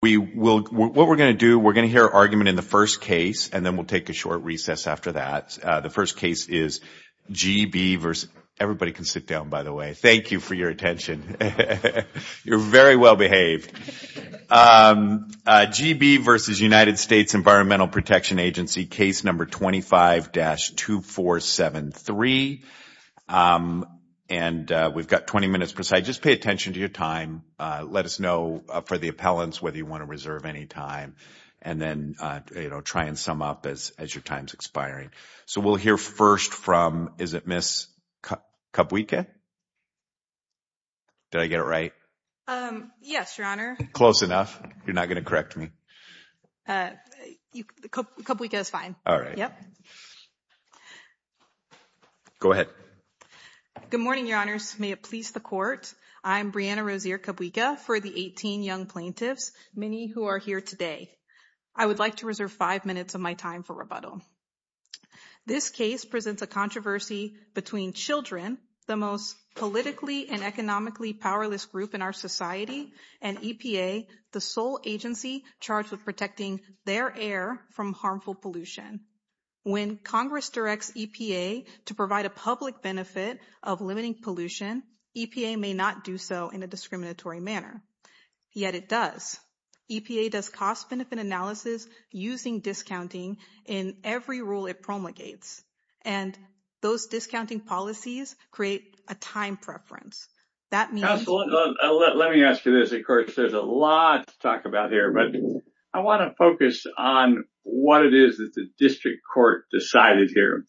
What we're going to do, we're going to hear argument in the first case and then we'll take a short recess after that. The first case is G.B. v. United States Environmental Protection Agency, case number 25-2473. Everybody can sit down, by the way. Thank you for your attention. You're very well behaved. G.B. v. United States Environmental Protection Agency, case number 25-2473. And we've got 20 minutes per side. Just pay attention to your time. Let us know for the appellants whether you want to reserve any time. And then, you know, try and sum up as your time's expiring. So we'll hear first from, is it Ms. Kubwika? Did I get it right? Yes, Your Honor. Close enough. You're not going to correct me. Kubwika is fine. All right. Yep. Go ahead. Good morning, Your Honors. May it please the Court. I'm Brianna Rozier-Kubwika for the 18 young plaintiffs, many who are here today. I would like to reserve five minutes of my time for rebuttal. This case presents a controversy between Children, the most politically and economically powerless group in our society, and EPA, the sole agency charged with protecting their air from harmful pollution. When Congress directs EPA to provide a public benefit of limiting pollution, EPA may not do so in a discriminatory manner. Yet it does. EPA does cost-benefit analysis using discounting in every rule it promulgates. And those discounting policies create a time preference. Let me ask you this, of course. There's a lot to talk about here, but I want to focus on what it is that the district court decided here.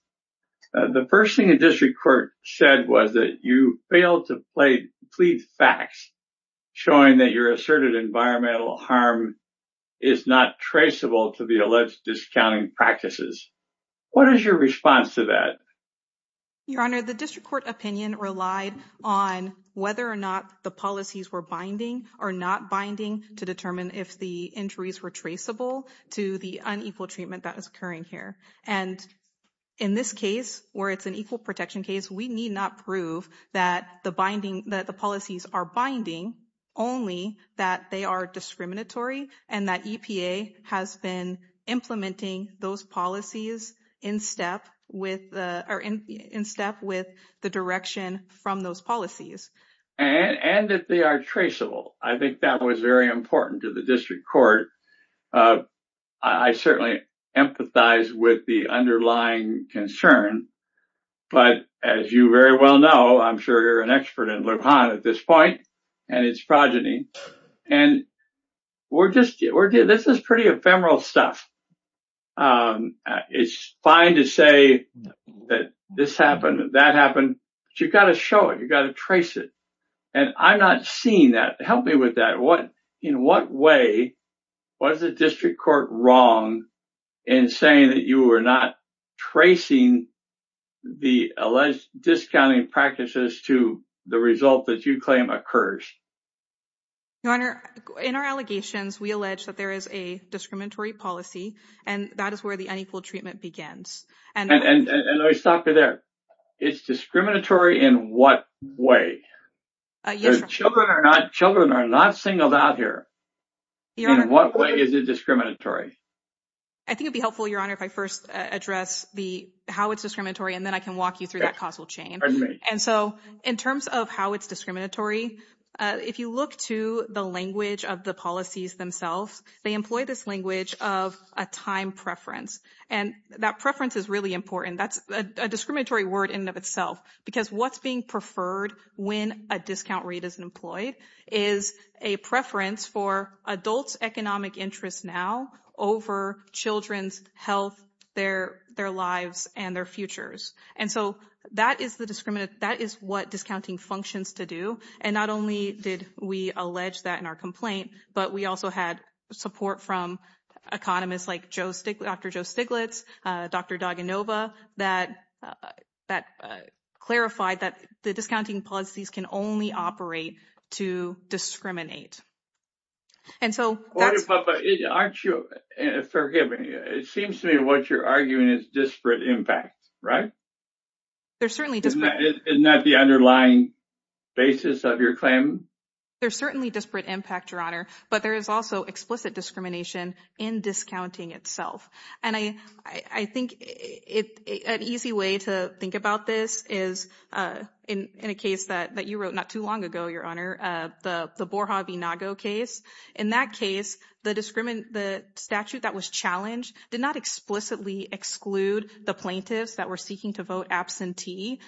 The first thing the district court said was that you failed to plead facts, showing that your asserted environmental harm is not traceable to the alleged discounting practices. What is your response to that? Your Honor, the district court opinion relied on whether or not the policies were binding or not binding to determine if the injuries were traceable to the unequal treatment that was occurring here. And in this case, where it's an equal protection case, we need not prove that the binding that the policies are binding, only that they are discriminatory and that EPA has been implementing those policies in step with the direction from those policies. And that they are traceable. I think that was very important to the district court. I certainly empathize with the underlying concern. But as you very well know, I'm sure you're an expert in LePon at this point and its progeny. And this is pretty ephemeral stuff. It's fine to say that this happened, that happened. But you've got to show it. You've got to trace it. And I'm not seeing that. Help me with that. In what way was the district court wrong in saying that you were not tracing the alleged discounting practices to the result that you claim occurs? Your Honor, in our allegations, we allege that there is a discriminatory policy and that is where the unequal treatment begins. And let me stop you there. It's discriminatory in what way? Children are not singled out here. In what way is it discriminatory? I think it'd be helpful, Your Honor, if I first address how it's discriminatory and then I can walk you through that causal chain. And so in terms of how it's discriminatory, if you look to the language of the policies themselves, they employ this language of a time preference. And that preference is really important. That's a discriminatory word in and of itself because what's being preferred when a discount rate is employed is a preference for adults' economic interests now over children's health, their lives, and their futures. And so that is what discounting functions to do. And not only did we allege that in our complaint, but we also had support from economists like Dr. Joe Stiglitz, Dr. Daganova, that clarified that the discounting policies can only operate to discriminate. Order, Papa, aren't you forgiving? It seems to me what you're arguing is disparate impact, right? Isn't that the underlying basis of your claim? There's certainly disparate impact, Your Honor, but there is also explicit discrimination in discounting itself. And I think an easy way to think about this is in a case that you wrote not too long ago, Your Honor, the Borja v. Nago case. In that case, the statute that was challenged did not explicitly exclude the plaintiffs that were seeking to vote absentee.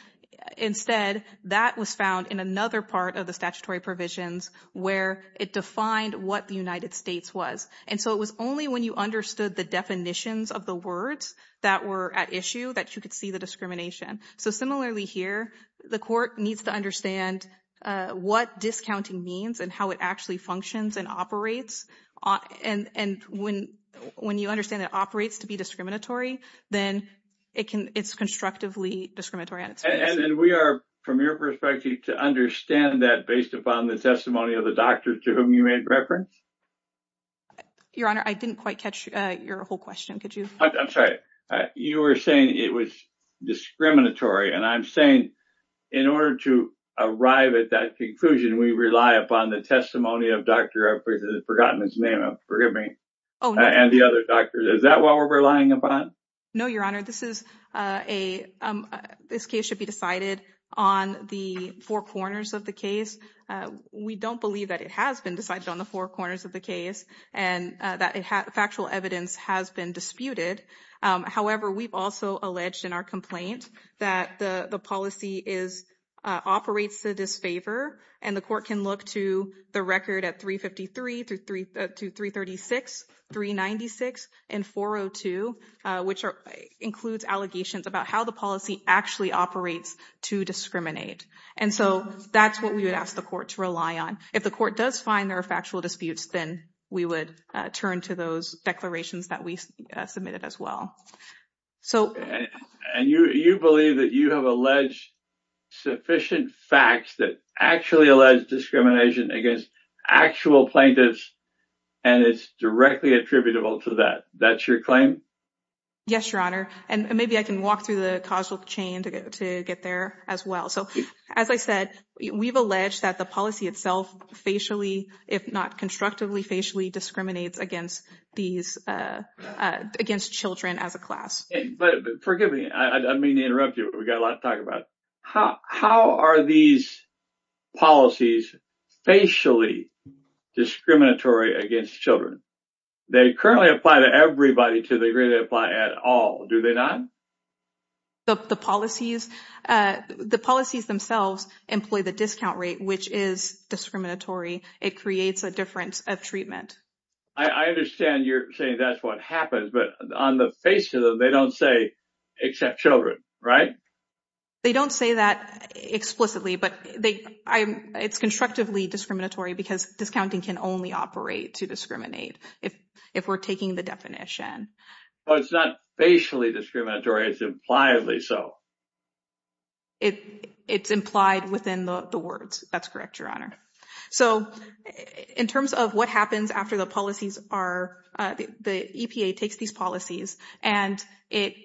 Instead, that was found in another part of the statutory provisions where it defined what the United States was. And so it was only when you understood the definitions of the words that were at issue that you could see the discrimination. So similarly here, the court needs to understand what discounting means and how it actually functions and operates. And when you understand it operates to be discriminatory, then it's constructively discriminatory. And we are, from your perspective, to understand that based upon the testimony of the doctor to whom you made reference? Your Honor, I didn't quite catch your whole question. Could you? I'm sorry. You were saying it was discriminatory. And I'm saying in order to arrive at that conclusion, we rely upon the testimony of Dr. I've forgotten his name. Forgive me. And the other doctors. Is that what we're relying upon? No, Your Honor. This is a this case should be decided on the four corners of the case. We don't believe that it has been decided on the four corners of the case and that factual evidence has been disputed. However, we've also alleged in our complaint that the policy is operates to disfavor and the court can look to the record at three fifty three to three to three thirty six three ninety six and four oh two, which includes allegations about how the policy actually operates to discriminate. And so that's what we would ask the court to rely on. If the court does find there are factual disputes, then we would turn to those declarations that we submitted as well. So and you believe that you have alleged sufficient facts that actually alleged discrimination against actual plaintiffs. And it's directly attributable to that. That's your claim. Yes, Your Honor. And maybe I can walk through the causal chain to get to get there as well. So, as I said, we've alleged that the policy itself facially, if not constructively, facially discriminates against these against children as a class. But forgive me. I mean, interrupt you. We got a lot to talk about. How how are these policies facially discriminatory against children? They currently apply to everybody to the degree they apply at all. Do they not? The policies, the policies themselves employ the discount rate, which is discriminatory. It creates a difference of treatment. I understand you're saying that's what happens. But on the face of them, they don't say except children. Right. They don't say that explicitly, but they it's constructively discriminatory because discounting can only operate to discriminate. If if we're taking the definition, it's not basically discriminatory. It's impliedly so. It's implied within the words. That's correct. Your Honor. So in terms of what happens after the policies are, the EPA takes these policies and it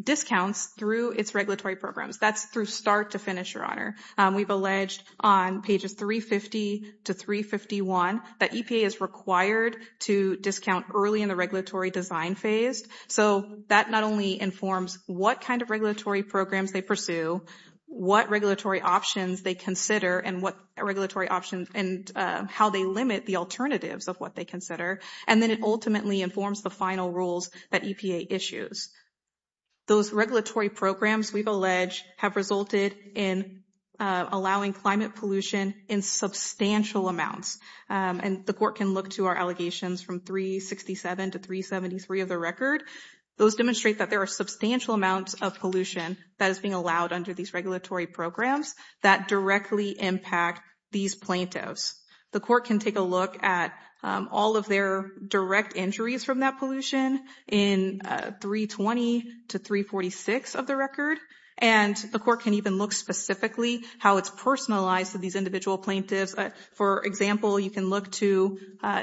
discounts through its regulatory programs. That's through start to finish. Your Honor. We've alleged on pages 350 to 351 that EPA is required to discount early in the regulatory design phase. So that not only informs what kind of regulatory programs they pursue, what regulatory options they consider and what regulatory options and how they limit the alternatives of what they consider. And then it ultimately informs the final rules that EPA issues. Those regulatory programs we've alleged have resulted in allowing climate pollution in substantial amounts. And the court can look to our allegations from 367 to 373 of the record. Those demonstrate that there are substantial amounts of pollution that is being allowed under these regulatory programs that directly impact these plaintiffs. The court can take a look at all of their direct injuries from that pollution in 320 to 346 of the record. And the court can even look specifically how it's personalized to these individual plaintiffs. For example, you can look to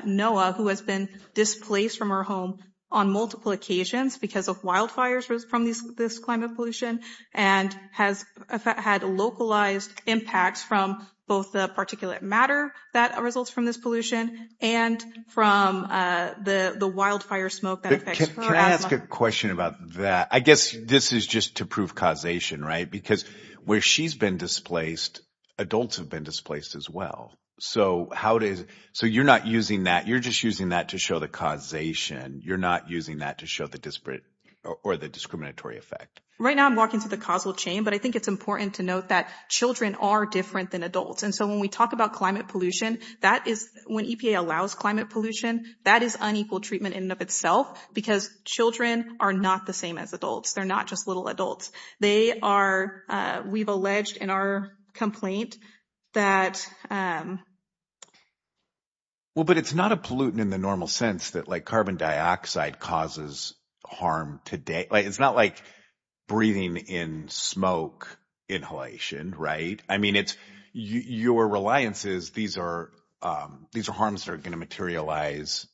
Noah, who has been displaced from her home on multiple occasions because of wildfires from this climate pollution and has had localized impacts from both the particulate matter that results from this pollution and from the wildfire smoke. Can I ask a question about that? I guess this is just to prove causation, right? Because where she's been displaced, adults have been displaced as well. So you're not using that. You're just using that to show the causation. You're not using that to show the disparate or the discriminatory effect. Right now, I'm walking through the causal chain, but I think it's important to note that children are different than adults. And so when we talk about climate pollution, that is when EPA allows climate pollution, that is unequal treatment in and of itself, because children are not the same as adults. They're not just little adults. They are. We've alleged in our complaint that. Well, but it's not a pollutant in the normal sense that like carbon dioxide causes harm today. It's not like breathing in smoke inhalation. Right. I mean, it's your reliance is these are these are harms that are going to materialize,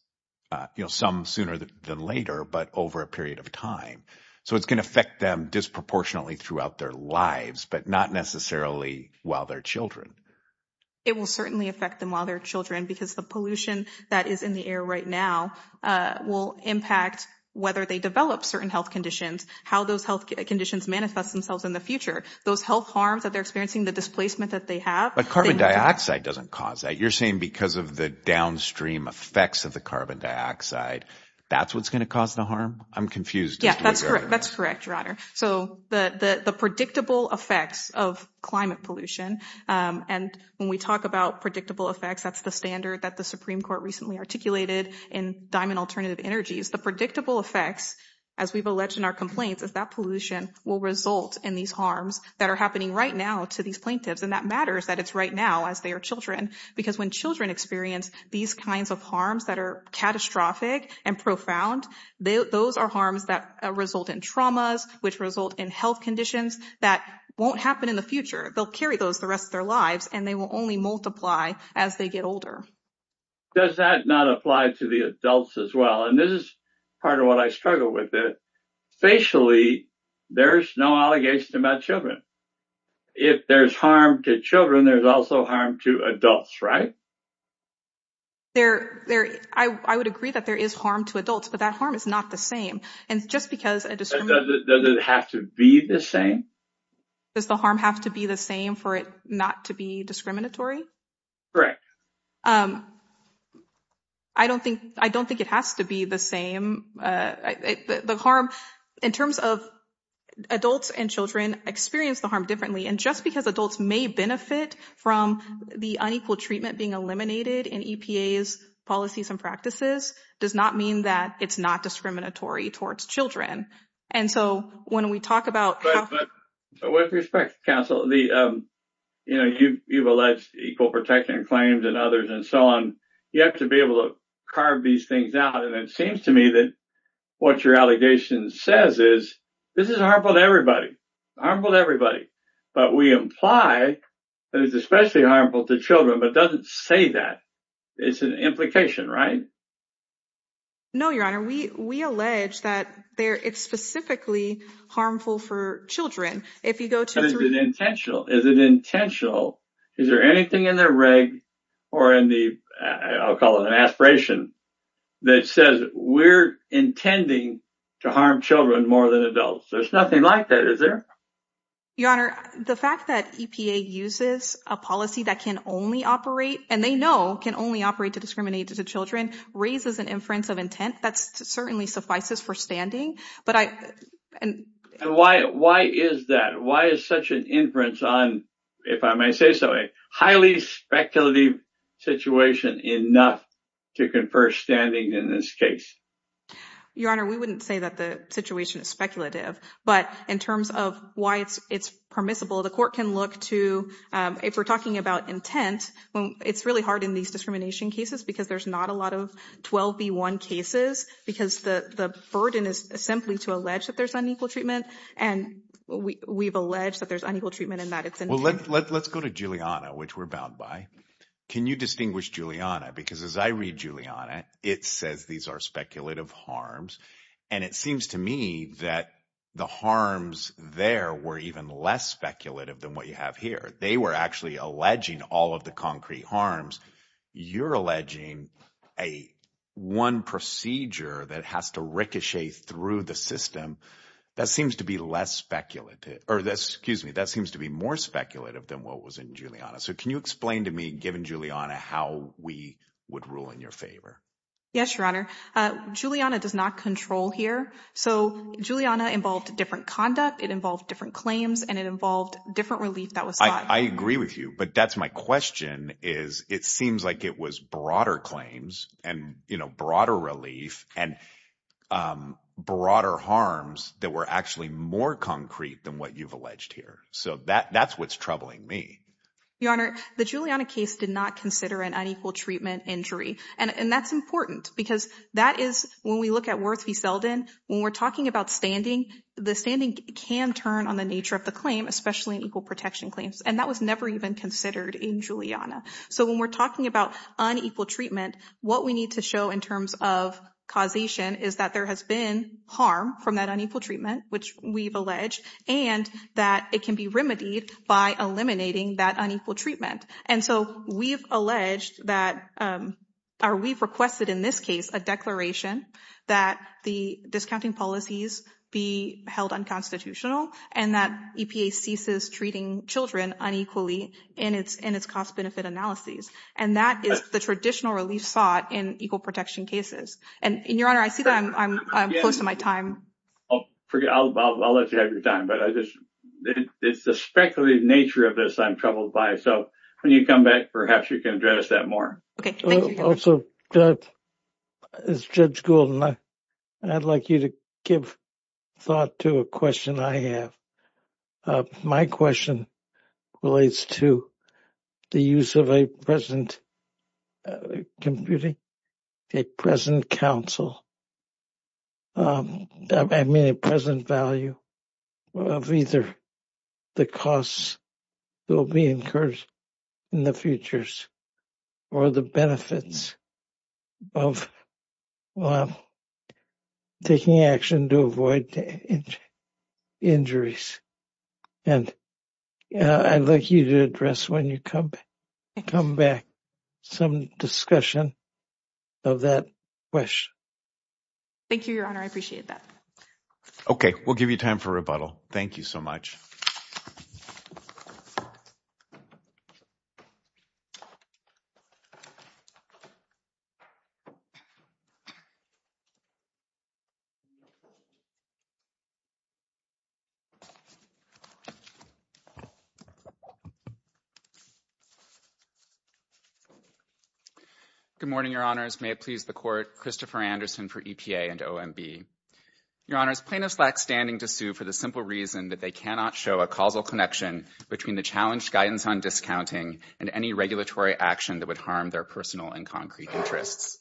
you know, some sooner than later, but over a period of time. So it's going to affect them disproportionately throughout their lives, but not necessarily while their children. It will certainly affect them while their children, because the pollution that is in the air right now will impact whether they develop certain health conditions, how those health conditions manifest themselves in the future, those health harms that they're experiencing, the displacement that they have. But carbon dioxide doesn't cause that. You're saying because of the downstream effects of the carbon dioxide, that's what's going to cause the harm. I'm confused. Yeah, that's correct. That's correct, Your Honor. So the the predictable effects of climate pollution. And when we talk about predictable effects, that's the standard that the Supreme Court recently articulated in Diamond Alternative Energies. The predictable effects, as we've alleged in our complaints, is that pollution will result in these harms that are happening right now to these plaintiffs. And that matters that it's right now as they are children, because when children experience these kinds of harms that are catastrophic and profound, those are harms that result in traumas, which result in health conditions that won't happen in the future. They'll carry those the rest of their lives and they will only multiply as they get older. Does that not apply to the adults as well? And this is part of what I struggle with. Facially, there's no allegation about children. If there's harm to children, there's also harm to adults, right? I would agree that there is harm to adults, but that harm is not the same. And just because it doesn't have to be the same, does the harm have to be the same for it not to be discriminatory? Correct. I don't think I don't think it has to be the same. The harm in terms of adults and children experience the harm differently. And just because adults may benefit from the unequal treatment being eliminated in EPA's policies and practices does not mean that it's not discriminatory towards children. And so when we talk about with respect to counsel, you know, you've alleged equal protection claims and others and so on. You have to be able to carve these things out. And it seems to me that what your allegation says is this is harmful to everybody. Harmful to everybody. But we imply that it's especially harmful to children, but doesn't say that. It's an implication, right? No, your honor. We we allege that there it's specifically harmful for children. If you go to an intentional, is it intentional? Is there anything in the reg or in the I'll call it an aspiration that says we're intending to harm children more than adults? There's nothing like that, is there? Your honor, the fact that EPA uses a policy that can only operate and they know can only operate to discriminate to children raises an inference of intent. That's certainly suffices for standing. But I and why why is that? Why is such an inference on if I may say so, a highly speculative situation enough to confer standing in this case? Your honor, we wouldn't say that the situation is speculative, but in terms of why it's it's permissible, the court can look to if we're talking about intent. Well, it's really hard in these discrimination cases because there's not a lot of 12 B1 cases because the burden is simply to allege that there's unequal treatment. And we've alleged that there's unequal treatment and that it's and let's go to Juliana, which we're bound by. Can you distinguish Juliana? Because as I read Juliana, it says these are speculative harms. And it seems to me that the harms there were even less speculative than what you have here. They were actually alleging all of the concrete harms. You're alleging a one procedure that has to ricochet through the system. That seems to be less speculative or excuse me. That seems to be more speculative than what was in Juliana. So can you explain to me, given Juliana, how we would rule in your favor? Yes, your honor. Juliana does not control here. So Juliana involved different conduct. It involved different claims and it involved different relief. I agree with you, but that's my question is it seems like it was broader claims and, you know, broader relief and broader harms that were actually more concrete than what you've alleged here. So that that's what's troubling me. Your honor, the Juliana case did not consider an unequal treatment injury. And that's important because that is when we look at Worth v. Selden, when we're talking about standing, the standing can turn on the nature of the claim, especially in equal protection claims. And that was never even considered in Juliana. So when we're talking about unequal treatment, what we need to show in terms of causation is that there has been harm from that unequal treatment, which we've alleged, and that it can be remedied by eliminating that unequal treatment. And so we've alleged that or we've requested in this case a declaration that the discounting policies be held unconstitutional and that EPA ceases treating children unequally in its in its cost benefit analyses. And that is the traditional relief sought in equal protection cases. And your honor, I see that I'm close to my time. I'll let you have your time, but I just it's the speculative nature of this I'm troubled by. So when you come back, perhaps you can address that more. Also, Judge Goulden, I'd like you to give thought to a question I have. My question relates to the use of a present computing, a present counsel. I mean, a present value of either the costs will be incurred in the futures or the benefits of taking action to avoid injuries. And I'd like you to address when you come back some discussion of that question. Thank you, your honor. I appreciate that. Okay, we'll give you time for rebuttal. Thank you so much. Good morning, your honors. May it please the court. Christopher Anderson for EPA and OMB. Your honors, plaintiffs lack standing to sue for the simple reason that they cannot show a causal connection between the challenged guidance on discounting and any regulatory action that would harm their personal and concrete interests.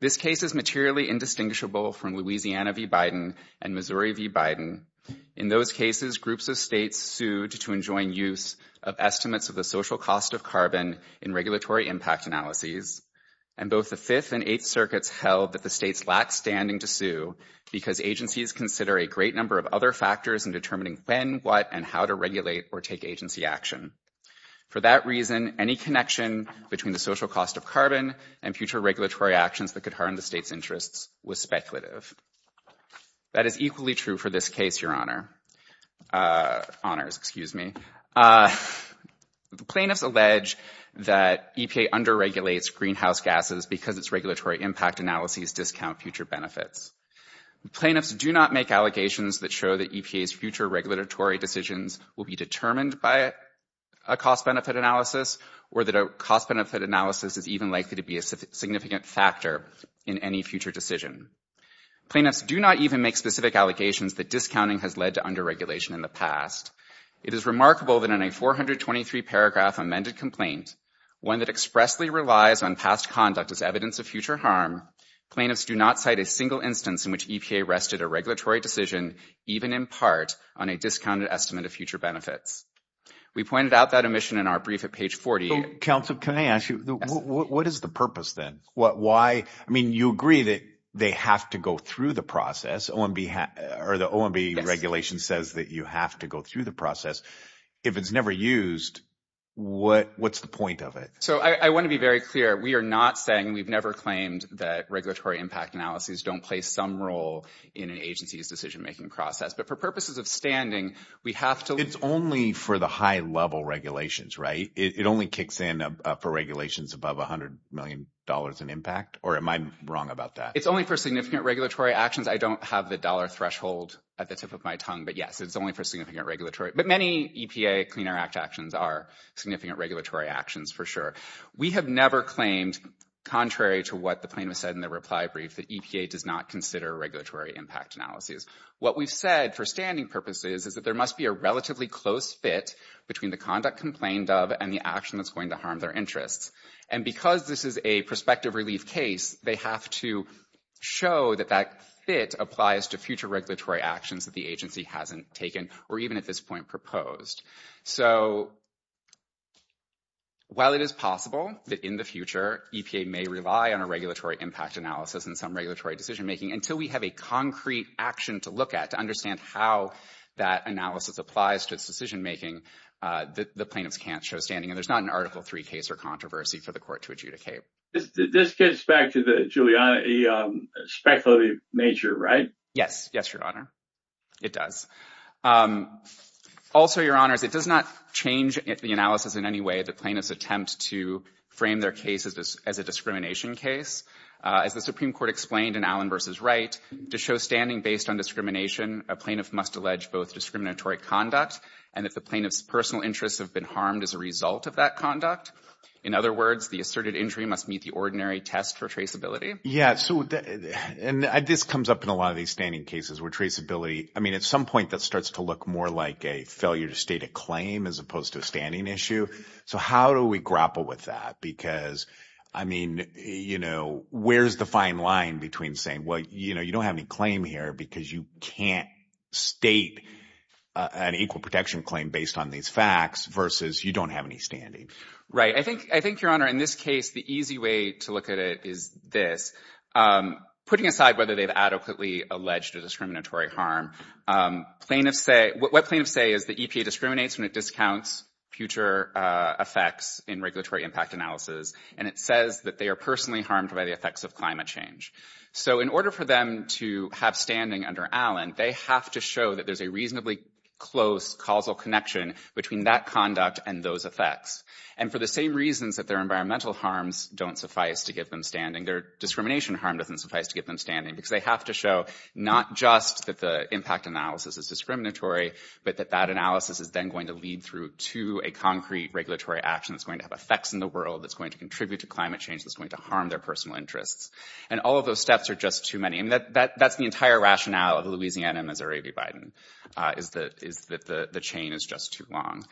This case is materially indistinguishable from Louisiana v. Biden and Missouri v. Biden. In those cases, groups of states sued to enjoin use of estimates of the social cost of carbon in regulatory impact analyses. And both the Fifth and Eighth Circuits held that the states lack standing to sue because agencies consider a great number of other factors in determining when, what, and how to regulate or take agency action. For that reason, any connection between the social cost of carbon and future regulatory actions that could harm the state's interests was speculative. That is equally true for this case, your honor. Honors, excuse me. The plaintiffs allege that EPA under-regulates greenhouse gases because its regulatory impact analyses discount future benefits. The plaintiffs do not make allegations that show that EPA's future regulatory decisions will be determined by a cost-benefit analysis or that a cost-benefit analysis is even likely to be a significant factor in any future decision. Plaintiffs do not even make specific allegations that discounting has led to under-regulation in the past. It is remarkable that in a 423-paragraph amended complaint, one that expressly relies on past conduct as evidence of future harm, plaintiffs do not cite a single instance in which EPA rested a regulatory decision, even in part, on a discounted estimate of future benefits. We pointed out that omission in our brief at page 48. Counsel, can I ask you, what is the purpose then? I mean, you agree that they have to go through the process. The OMB regulation says that you have to go through the process. If it's never used, what's the point of it? So I want to be very clear. We are not saying, we've never claimed that regulatory impact analyses don't play some role in an agency's decision-making process. But for purposes of standing, we have to… It's only for the high-level regulations, right? You're saying for regulations above $100 million in impact, or am I wrong about that? It's only for significant regulatory actions. I don't have the dollar threshold at the tip of my tongue, but yes, it's only for significant regulatory… But many EPA Clean Air Act actions are significant regulatory actions, for sure. We have never claimed, contrary to what the plaintiff said in the reply brief, that EPA does not consider regulatory impact analyses. What we've said for standing purposes is that there must be a relatively close fit between the conduct complained of and the action that's going to harm their interests. And because this is a prospective relief case, they have to show that that fit applies to future regulatory actions that the agency hasn't taken or even at this point proposed. So while it is possible that in the future EPA may rely on a regulatory impact analysis in some regulatory decision-making, until we have a concrete action to look at to understand how that analysis applies to its decision-making, the plaintiffs can't show standing. And there's not an Article III case or controversy for the court to adjudicate. This gets back to the speculative nature, right? Yes. Yes, Your Honor. It does. Also, Your Honors, it does not change the analysis in any way that plaintiffs attempt to frame their case as a discrimination case. As the Supreme Court explained in Allen v. Wright, to show standing based on discrimination, a plaintiff must allege both discriminatory conduct and that the plaintiff's personal interests have been harmed as a result of that conduct. In other words, the asserted injury must meet the ordinary test for traceability. Yeah. And this comes up in a lot of these standing cases where traceability, I mean, at some point that starts to look more like a failure to state a claim as opposed to a standing issue. So how do we grapple with that? Because, I mean, you know, where's the fine line between saying, well, you know, you don't have any claim here because you can't state an equal protection claim based on these facts versus you don't have any standing. Right. I think, Your Honor, in this case, the easy way to look at it is this. Putting aside whether they've adequately alleged a discriminatory harm, what plaintiffs say is the EPA discriminates when it discounts future effects in regulatory impact analysis. And it says that they are personally harmed by the effects of climate change. So in order for them to have standing under Allen, they have to show that there's a reasonably close causal connection between that conduct and those effects. And for the same reasons that their environmental harms don't suffice to give them standing, their discrimination harm doesn't suffice to get them standing because they have to show not just that the impact analysis is discriminatory, but that that analysis is then going to lead through to a concrete regulatory action that's going to have effects in the world, that's going to contribute to climate change, that's going to harm their personal interests. And all of those steps are just too many. And that's the entire rationale of Louisiana and Missouri v. Biden, is that the chain is just too long.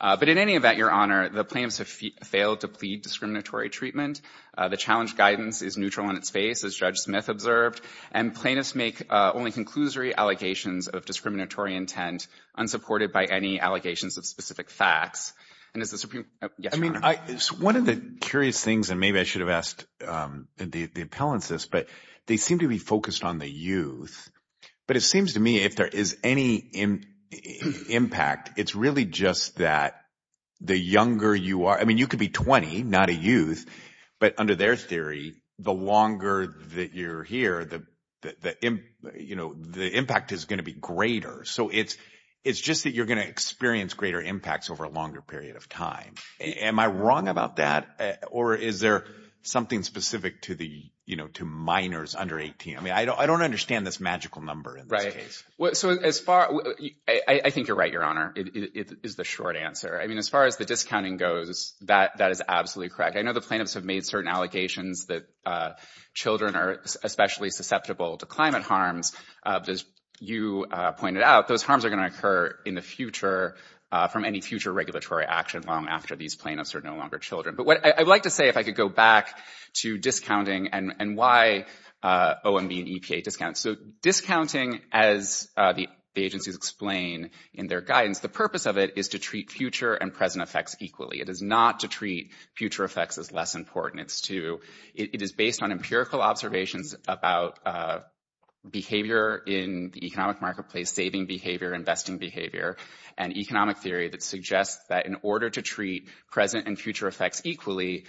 But in any event, Your Honor, the plaintiffs have failed to plead discriminatory treatment. The challenge guidance is neutral in its face, as Judge Smith observed. And plaintiffs make only conclusory allegations of discriminatory intent unsupported by any allegations of specific facts. I mean, one of the curious things, and maybe I should have asked the appellants this, but they seem to be focused on the youth. But it seems to me if there is any impact, it's really just that the younger you are, I mean, you could be 20, not a youth. But under their theory, the longer that you're here, the impact is going to be greater. So it's just that you're going to experience greater impacts over a longer period of time. Am I wrong about that? Or is there something specific to minors under 18? I mean, I don't understand this magical number in this case. Right. I think you're right, Your Honor, is the short answer. I mean, as far as the discounting goes, that is absolutely correct. Plaintiffs have made certain allegations that children are especially susceptible to climate harms. As you pointed out, those harms are going to occur in the future from any future regulatory action long after these plaintiffs are no longer children. But what I'd like to say, if I could go back to discounting and why OMB and EPA discount. So discounting, as the agencies explain in their guidance, the purpose of it is to treat future and present effects equally. It is not to treat future effects as less important. It is based on empirical observations about behavior in the economic marketplace, saving behavior, investing behavior and economic theory that suggests that in order to treat present and future effects equally,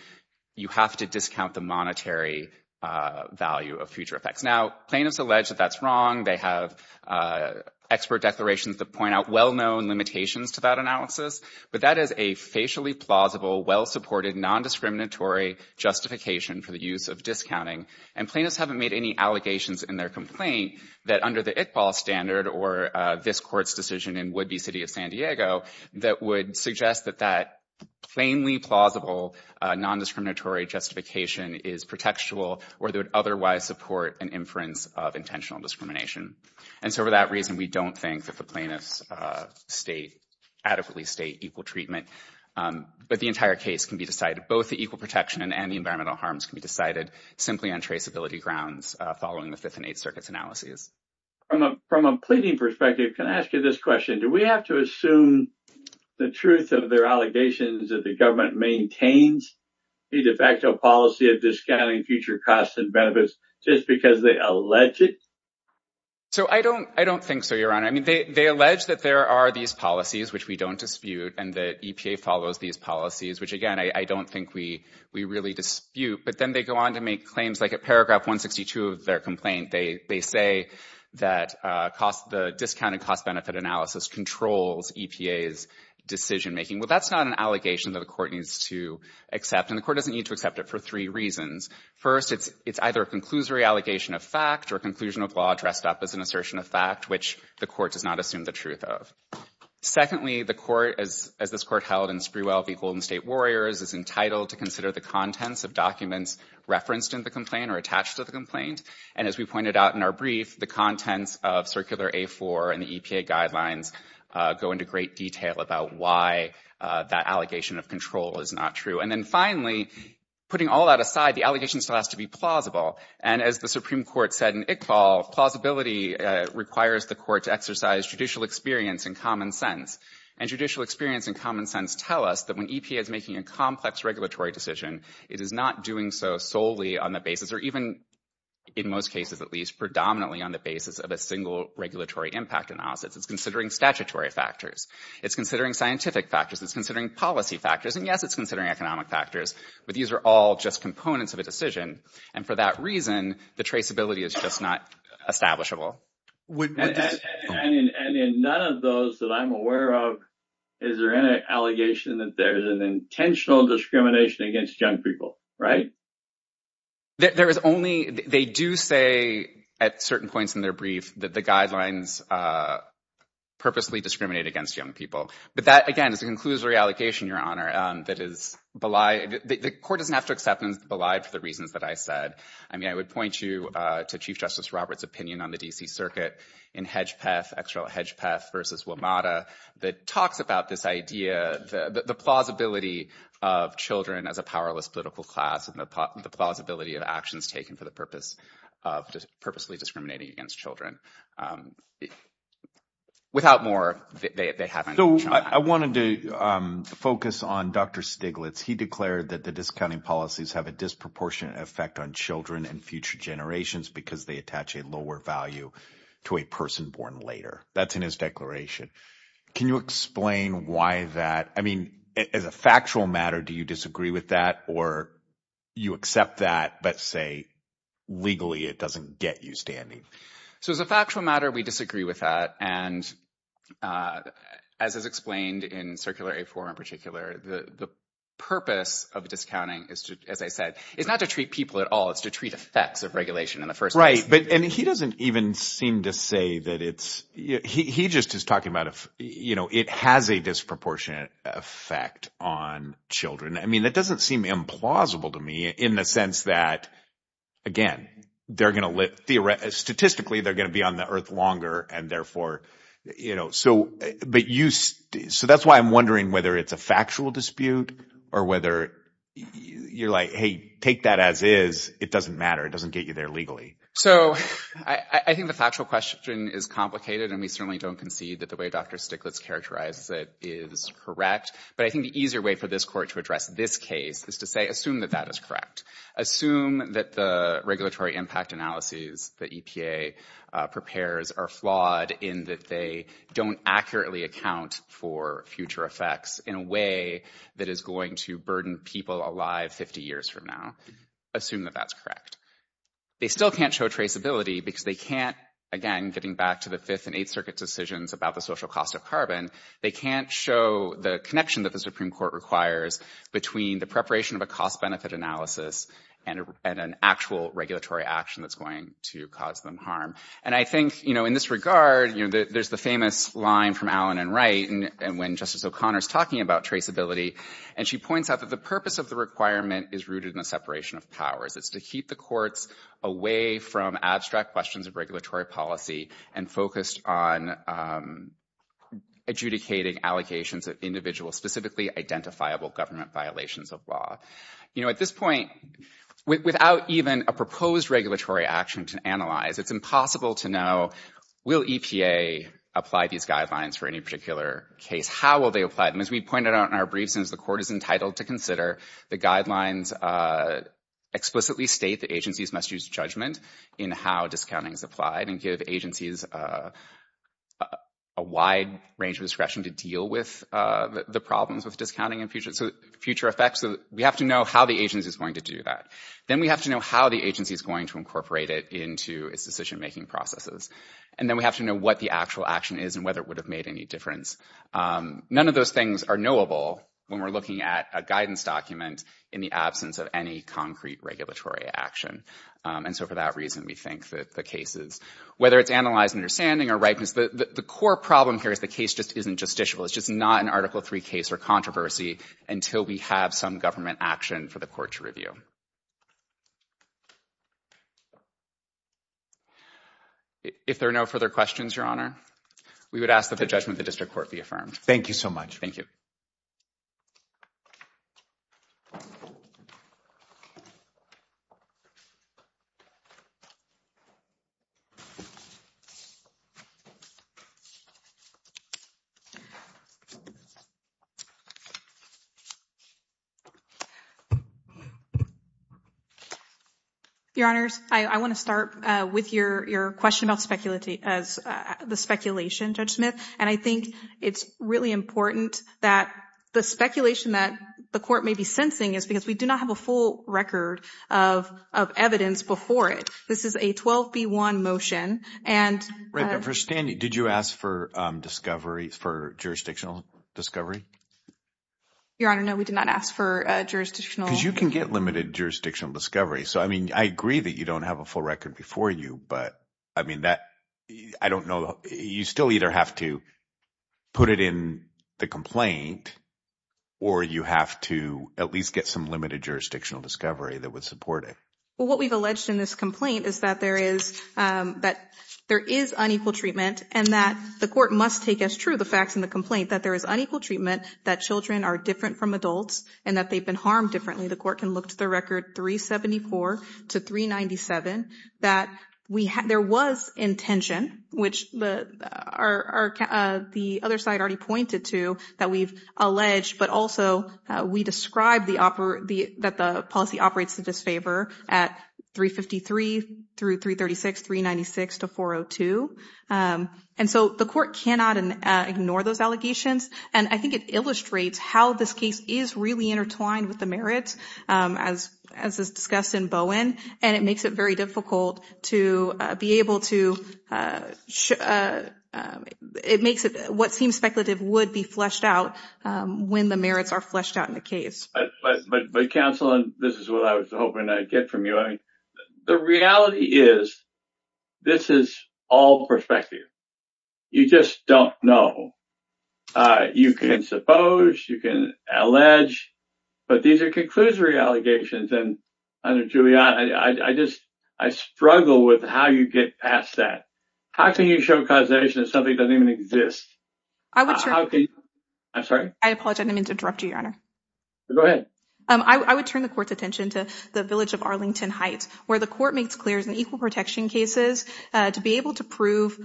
you have to discount the monetary value of future effects. Now, plaintiffs allege that that's wrong. They have expert declarations that point out well-known limitations to that analysis. But that is a facially plausible, well-supported, non-discriminatory justification for the use of discounting. And plaintiffs haven't made any allegations in their complaint that under the ICPAL standard or this court's decision in would-be city of San Diego that would suggest that that plainly plausible, non-discriminatory justification is pretextual or that would otherwise support an inference of intentional discrimination. And so for that reason, we don't think that the plaintiffs adequately state equal treatment. But the entire case can be decided. Both the equal protection and the environmental harms can be decided simply on traceability grounds following the Fifth and Eighth Circuit's analyses. From a pleading perspective, can I ask you this question? Do we have to assume the truth of their allegations that the government maintains a de facto policy of discounting future costs and benefits just because they allege it? So I don't think so, Your Honor. I mean, they allege that there are these policies which we don't dispute and the EPA follows these policies, which again, I don't think we really dispute. But then they go on to make claims like at paragraph 162 of their complaint, they say that the discounted cost-benefit analysis controls EPA's decision-making. Well, that's not an allegation that the court needs to accept. And the court doesn't need to accept it for three reasons. First, it's either a conclusory allegation of fact or a conclusion of law dressed up as an assertion of fact that the court does not assume the truth of. Secondly, the court, as this court held in Sprewell v. Golden State Warriors, is entitled to consider the contents of documents referenced in the complaint or attached to the complaint. And as we pointed out in our brief, the contents of Circular A-4 and the EPA guidelines go into great detail about why that allegation of control is not true. And then finally, putting all that aside, the allegation still has to be plausible. And as the Supreme Court said in Iqbal, plausibility requires the court to exercise judicial experience and common sense. And judicial experience and common sense tell us that when EPA is making a complex regulatory decision, it is not doing so solely on the basis, or even in most cases at least, predominantly on the basis of a single regulatory impact analysis. It's considering statutory factors. It's considering scientific factors. It's considering policy factors. And yes, it's considering economic factors. But these are all just components of a decision. And for that reason, the traceability is just not establishable. And in none of those that I'm aware of, is there any allegation that there is an intentional discrimination against young people, right? There is only... They do say at certain points in their brief that the guidelines purposely discriminate against young people. But that, again, is a conclusory allegation, Your Honor, that is belied... The court doesn't have to accept and belied for the reasons that I said. I mean, I would point you to Chief Justice Robert's opinion on the D.C. Circuit in Hedgepeth, Hedgepeth versus WMATA, that talks about this idea, the plausibility of children as a powerless political class and the plausibility of actions taken for the purpose of purposefully discriminating against children. Without more, they haven't... So I wanted to focus on Dr. Stiglitz. He declared that the discounting policies have a disproportionate effect on children and future generations because they attach a lower value to a person born later. That's in his declaration. Can you explain why that... I mean, as a factual matter, do you disagree with that or you accept that but say, legally, it doesn't get you standing? So as a factual matter, we disagree with that. And as is explained in Circular A4 in particular, the purpose of discounting, as I said, is not to treat people at all. It's to treat effects of regulation in the first place. Right, but he doesn't even seem to say that it's... He just is talking about, it has a disproportionate effect on children. I mean, that doesn't seem implausible to me in the sense that, again, statistically, they're going to be on the earth longer and therefore... So that's why I'm wondering whether it's a factual dispute or whether you're like, hey, take that as is. It doesn't matter. It doesn't get you there legally. So I think the factual question is complicated and we certainly don't concede that the way Dr. Stiglitz characterizes it is correct. But I think the easier way for this court to address this case is to say, assume that that is correct. Assume that the regulatory impact analyses that EPA prepares are flawed in that they don't accurately account for future effects in a way that is going to burden people alive 50 years from now. Assume that that's correct. They still can't show traceability because they can't, again, getting back to the Fifth and Eighth Circuit decisions about the social cost of carbon, they can't show the connection that the Supreme Court requires between the preparation of a cost-benefit analysis and an actual regulatory action that's going to cause them harm. And I think, you know, in this regard, you know, there's the famous line from Allen and Wright when Justice O'Connor is talking about traceability, and she points out that the purpose of the requirement is rooted in the separation of powers. It's to keep the courts away from abstract questions of regulatory policy and focused on adjudicating allocations of individual specifically identifiable government violations of law. You know, at this point, without even a proposed regulatory action to analyze, it's impossible to know, will the FDA apply these guidelines for any particular case? How will they apply them? As we pointed out in our briefs, since the court is entitled to consider, the guidelines explicitly state that agencies must use judgment in how discounting is applied and give agencies a wide range of discretion to deal with the problems with discounting and future effects. So we have to know how the agency is going to do that. Then we have to know how the agency is going to incorporate it into its decision-making processes. And then we have to know what the actual action is and whether it would have made any difference. None of those things are knowable when we're looking at a guidance document in the absence of any concrete regulatory action. And so for that reason, we think that the cases, whether it's analyzed and understanding or rightness, the core problem here is the case just isn't justiciable. It's just not an Article III case or controversy until we have some government action for the court to review. If there are no further questions, Your Honor, we would ask that the judgment of the district court be affirmed. Thank you so much. Thank you. Your Honors, I want to start with your question about the speculation, Judge Smith. And I think it's really important that the speculation that the court may be sensing is because we do not have a full record of evidence before it. This is a 12B1 motion. And... Did you ask for discovery, for jurisdictional discovery? Your Honor, no. We did not ask for jurisdictional... Because you can get limited jurisdictional discovery. So, I mean, I agree that you don't have a full record of evidence before you. But, I mean, that... I don't know... You still either have to put it in the complaint or you have to at least get some limited jurisdictional discovery that would support it. Well, what we've alleged in this complaint is that there is... that there is unequal treatment and that the court must take as true the facts in the complaint that there is unequal treatment, that children are different from adults and that they've been harmed differently. There was intention, which the other side already pointed to, that we've alleged, but also we described that the policy operates to disfavor at 353 through 336, 396 to 402. And so the court cannot ignore those allegations. And I think it illustrates how this case is really intertwined with the merits, as is discussed in Bowen. And it makes it very difficult to be able to... It makes it what seems speculative would be fleshed out when the merits are fleshed out in the case. But, counsel, this is what I was hoping I'd get from you. The reality is this is all perspective. You just don't know. You can suppose, you can allege, but these are conclusory allegations. And, Your Honor, I struggle with how you get past that. How can you show causation if something doesn't even exist? I'm sorry? I apologize. I didn't mean to interrupt you, Your Honor. Go ahead. I would turn the court's attention to the village of Arlington Heights, where the court makes clear it's an equal protection case to be able to prove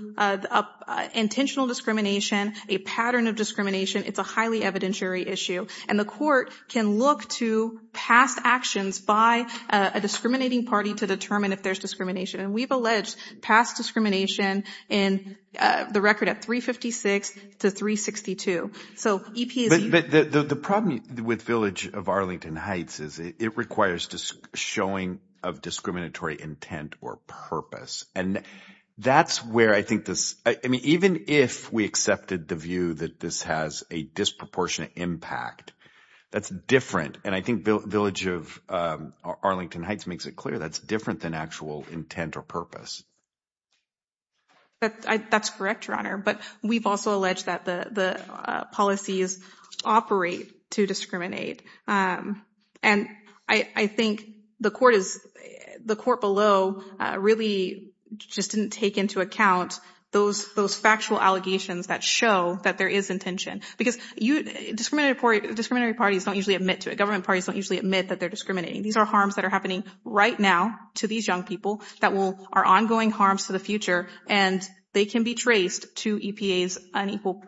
intentional discrimination, a pattern of discrimination. It's a highly evidentiary issue. And the court can look to past actions by a discriminating party to determine if there's discrimination. And we've alleged past discrimination in the record at 356 to 362. So, E.P. is... But the problem with village of Arlington Heights is it requires showing of discriminatory intent or purpose. And that's where I think this... I mean, even if we accepted the view that this has a disproportionate impact that's different. And I think village of Arlington Heights makes it clear that's different than actual intent or purpose. That's correct, Your Honor. But we've also alleged that the policies operate to discriminate. And I think the court is... The court below really just didn't take into account those factual allegations that show that there is intention. Because discriminatory parties don't usually admit to it. Government parties don't usually admit that they're discriminating. These are harms that are happening right now to these young people that are ongoing harms to the future. And they can be traced to EPA's unequal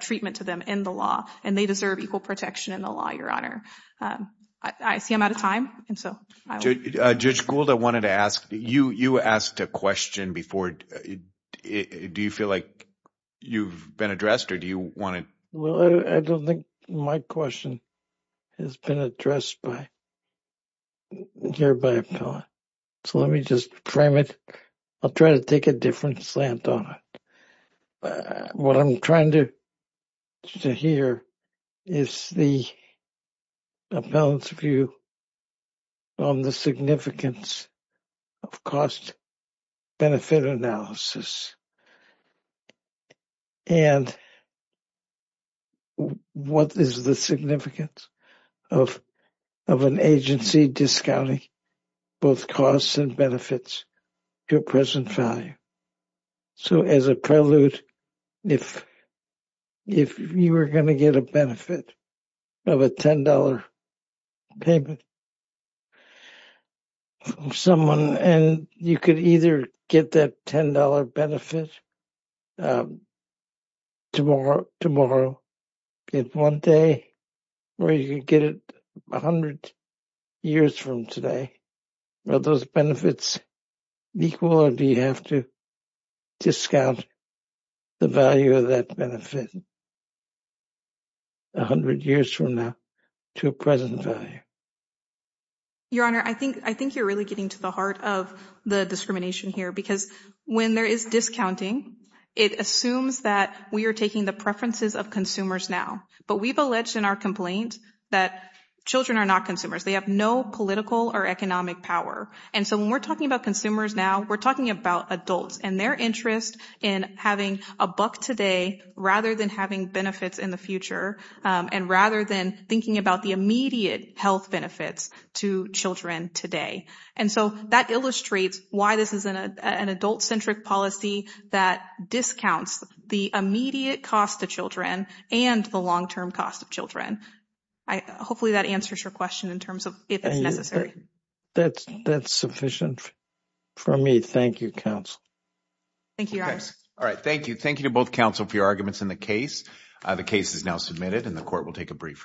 treatment to them in the law. And they deserve equal protection in the law, Your Honor. I see I'm out of time. Judge Gould, I wanted to ask. You asked a question before. Do you feel like you've been addressed or do you want to... Well, I don't think my question has been addressed here by appellant. So let me just frame it. I'll try to take a different slant on it. What I'm trying to hear is the appellant's view on the significance of cost-benefit analysis. And what is the significance of an agency discounting both costs and benefits to a present value? So as a prelude, if you were going to get a benefit of a $10 payment from someone, and you could either get that $10 benefit tomorrow, get one day, or you could get it 100 years from today, are those benefits equal or do you have to discount the value of that benefit 100 years from now to a present value? Your Honor, I think you're really getting to the heart of the discrimination here because when there is discounting, it assumes that we are taking the preferences of consumers now. But we've alleged in our complaint that children are not consumers. They have no political or economic power. And so when we're talking about consumers now, we're talking about adults and their interest in having a buck today rather than having benefits in the future and rather than thinking about the immediate health benefits to children today. And so that illustrates an adult-centric policy that discounts the immediate cost to children and the long-term cost of children. Hopefully that answers your question in terms of if it's necessary. That's sufficient for me. Thank you, Counsel. Thank you, Your Honor. All right, thank you. Thank you to both counsel for your arguments in the case. The case is now submitted and the Court will take a brief recess.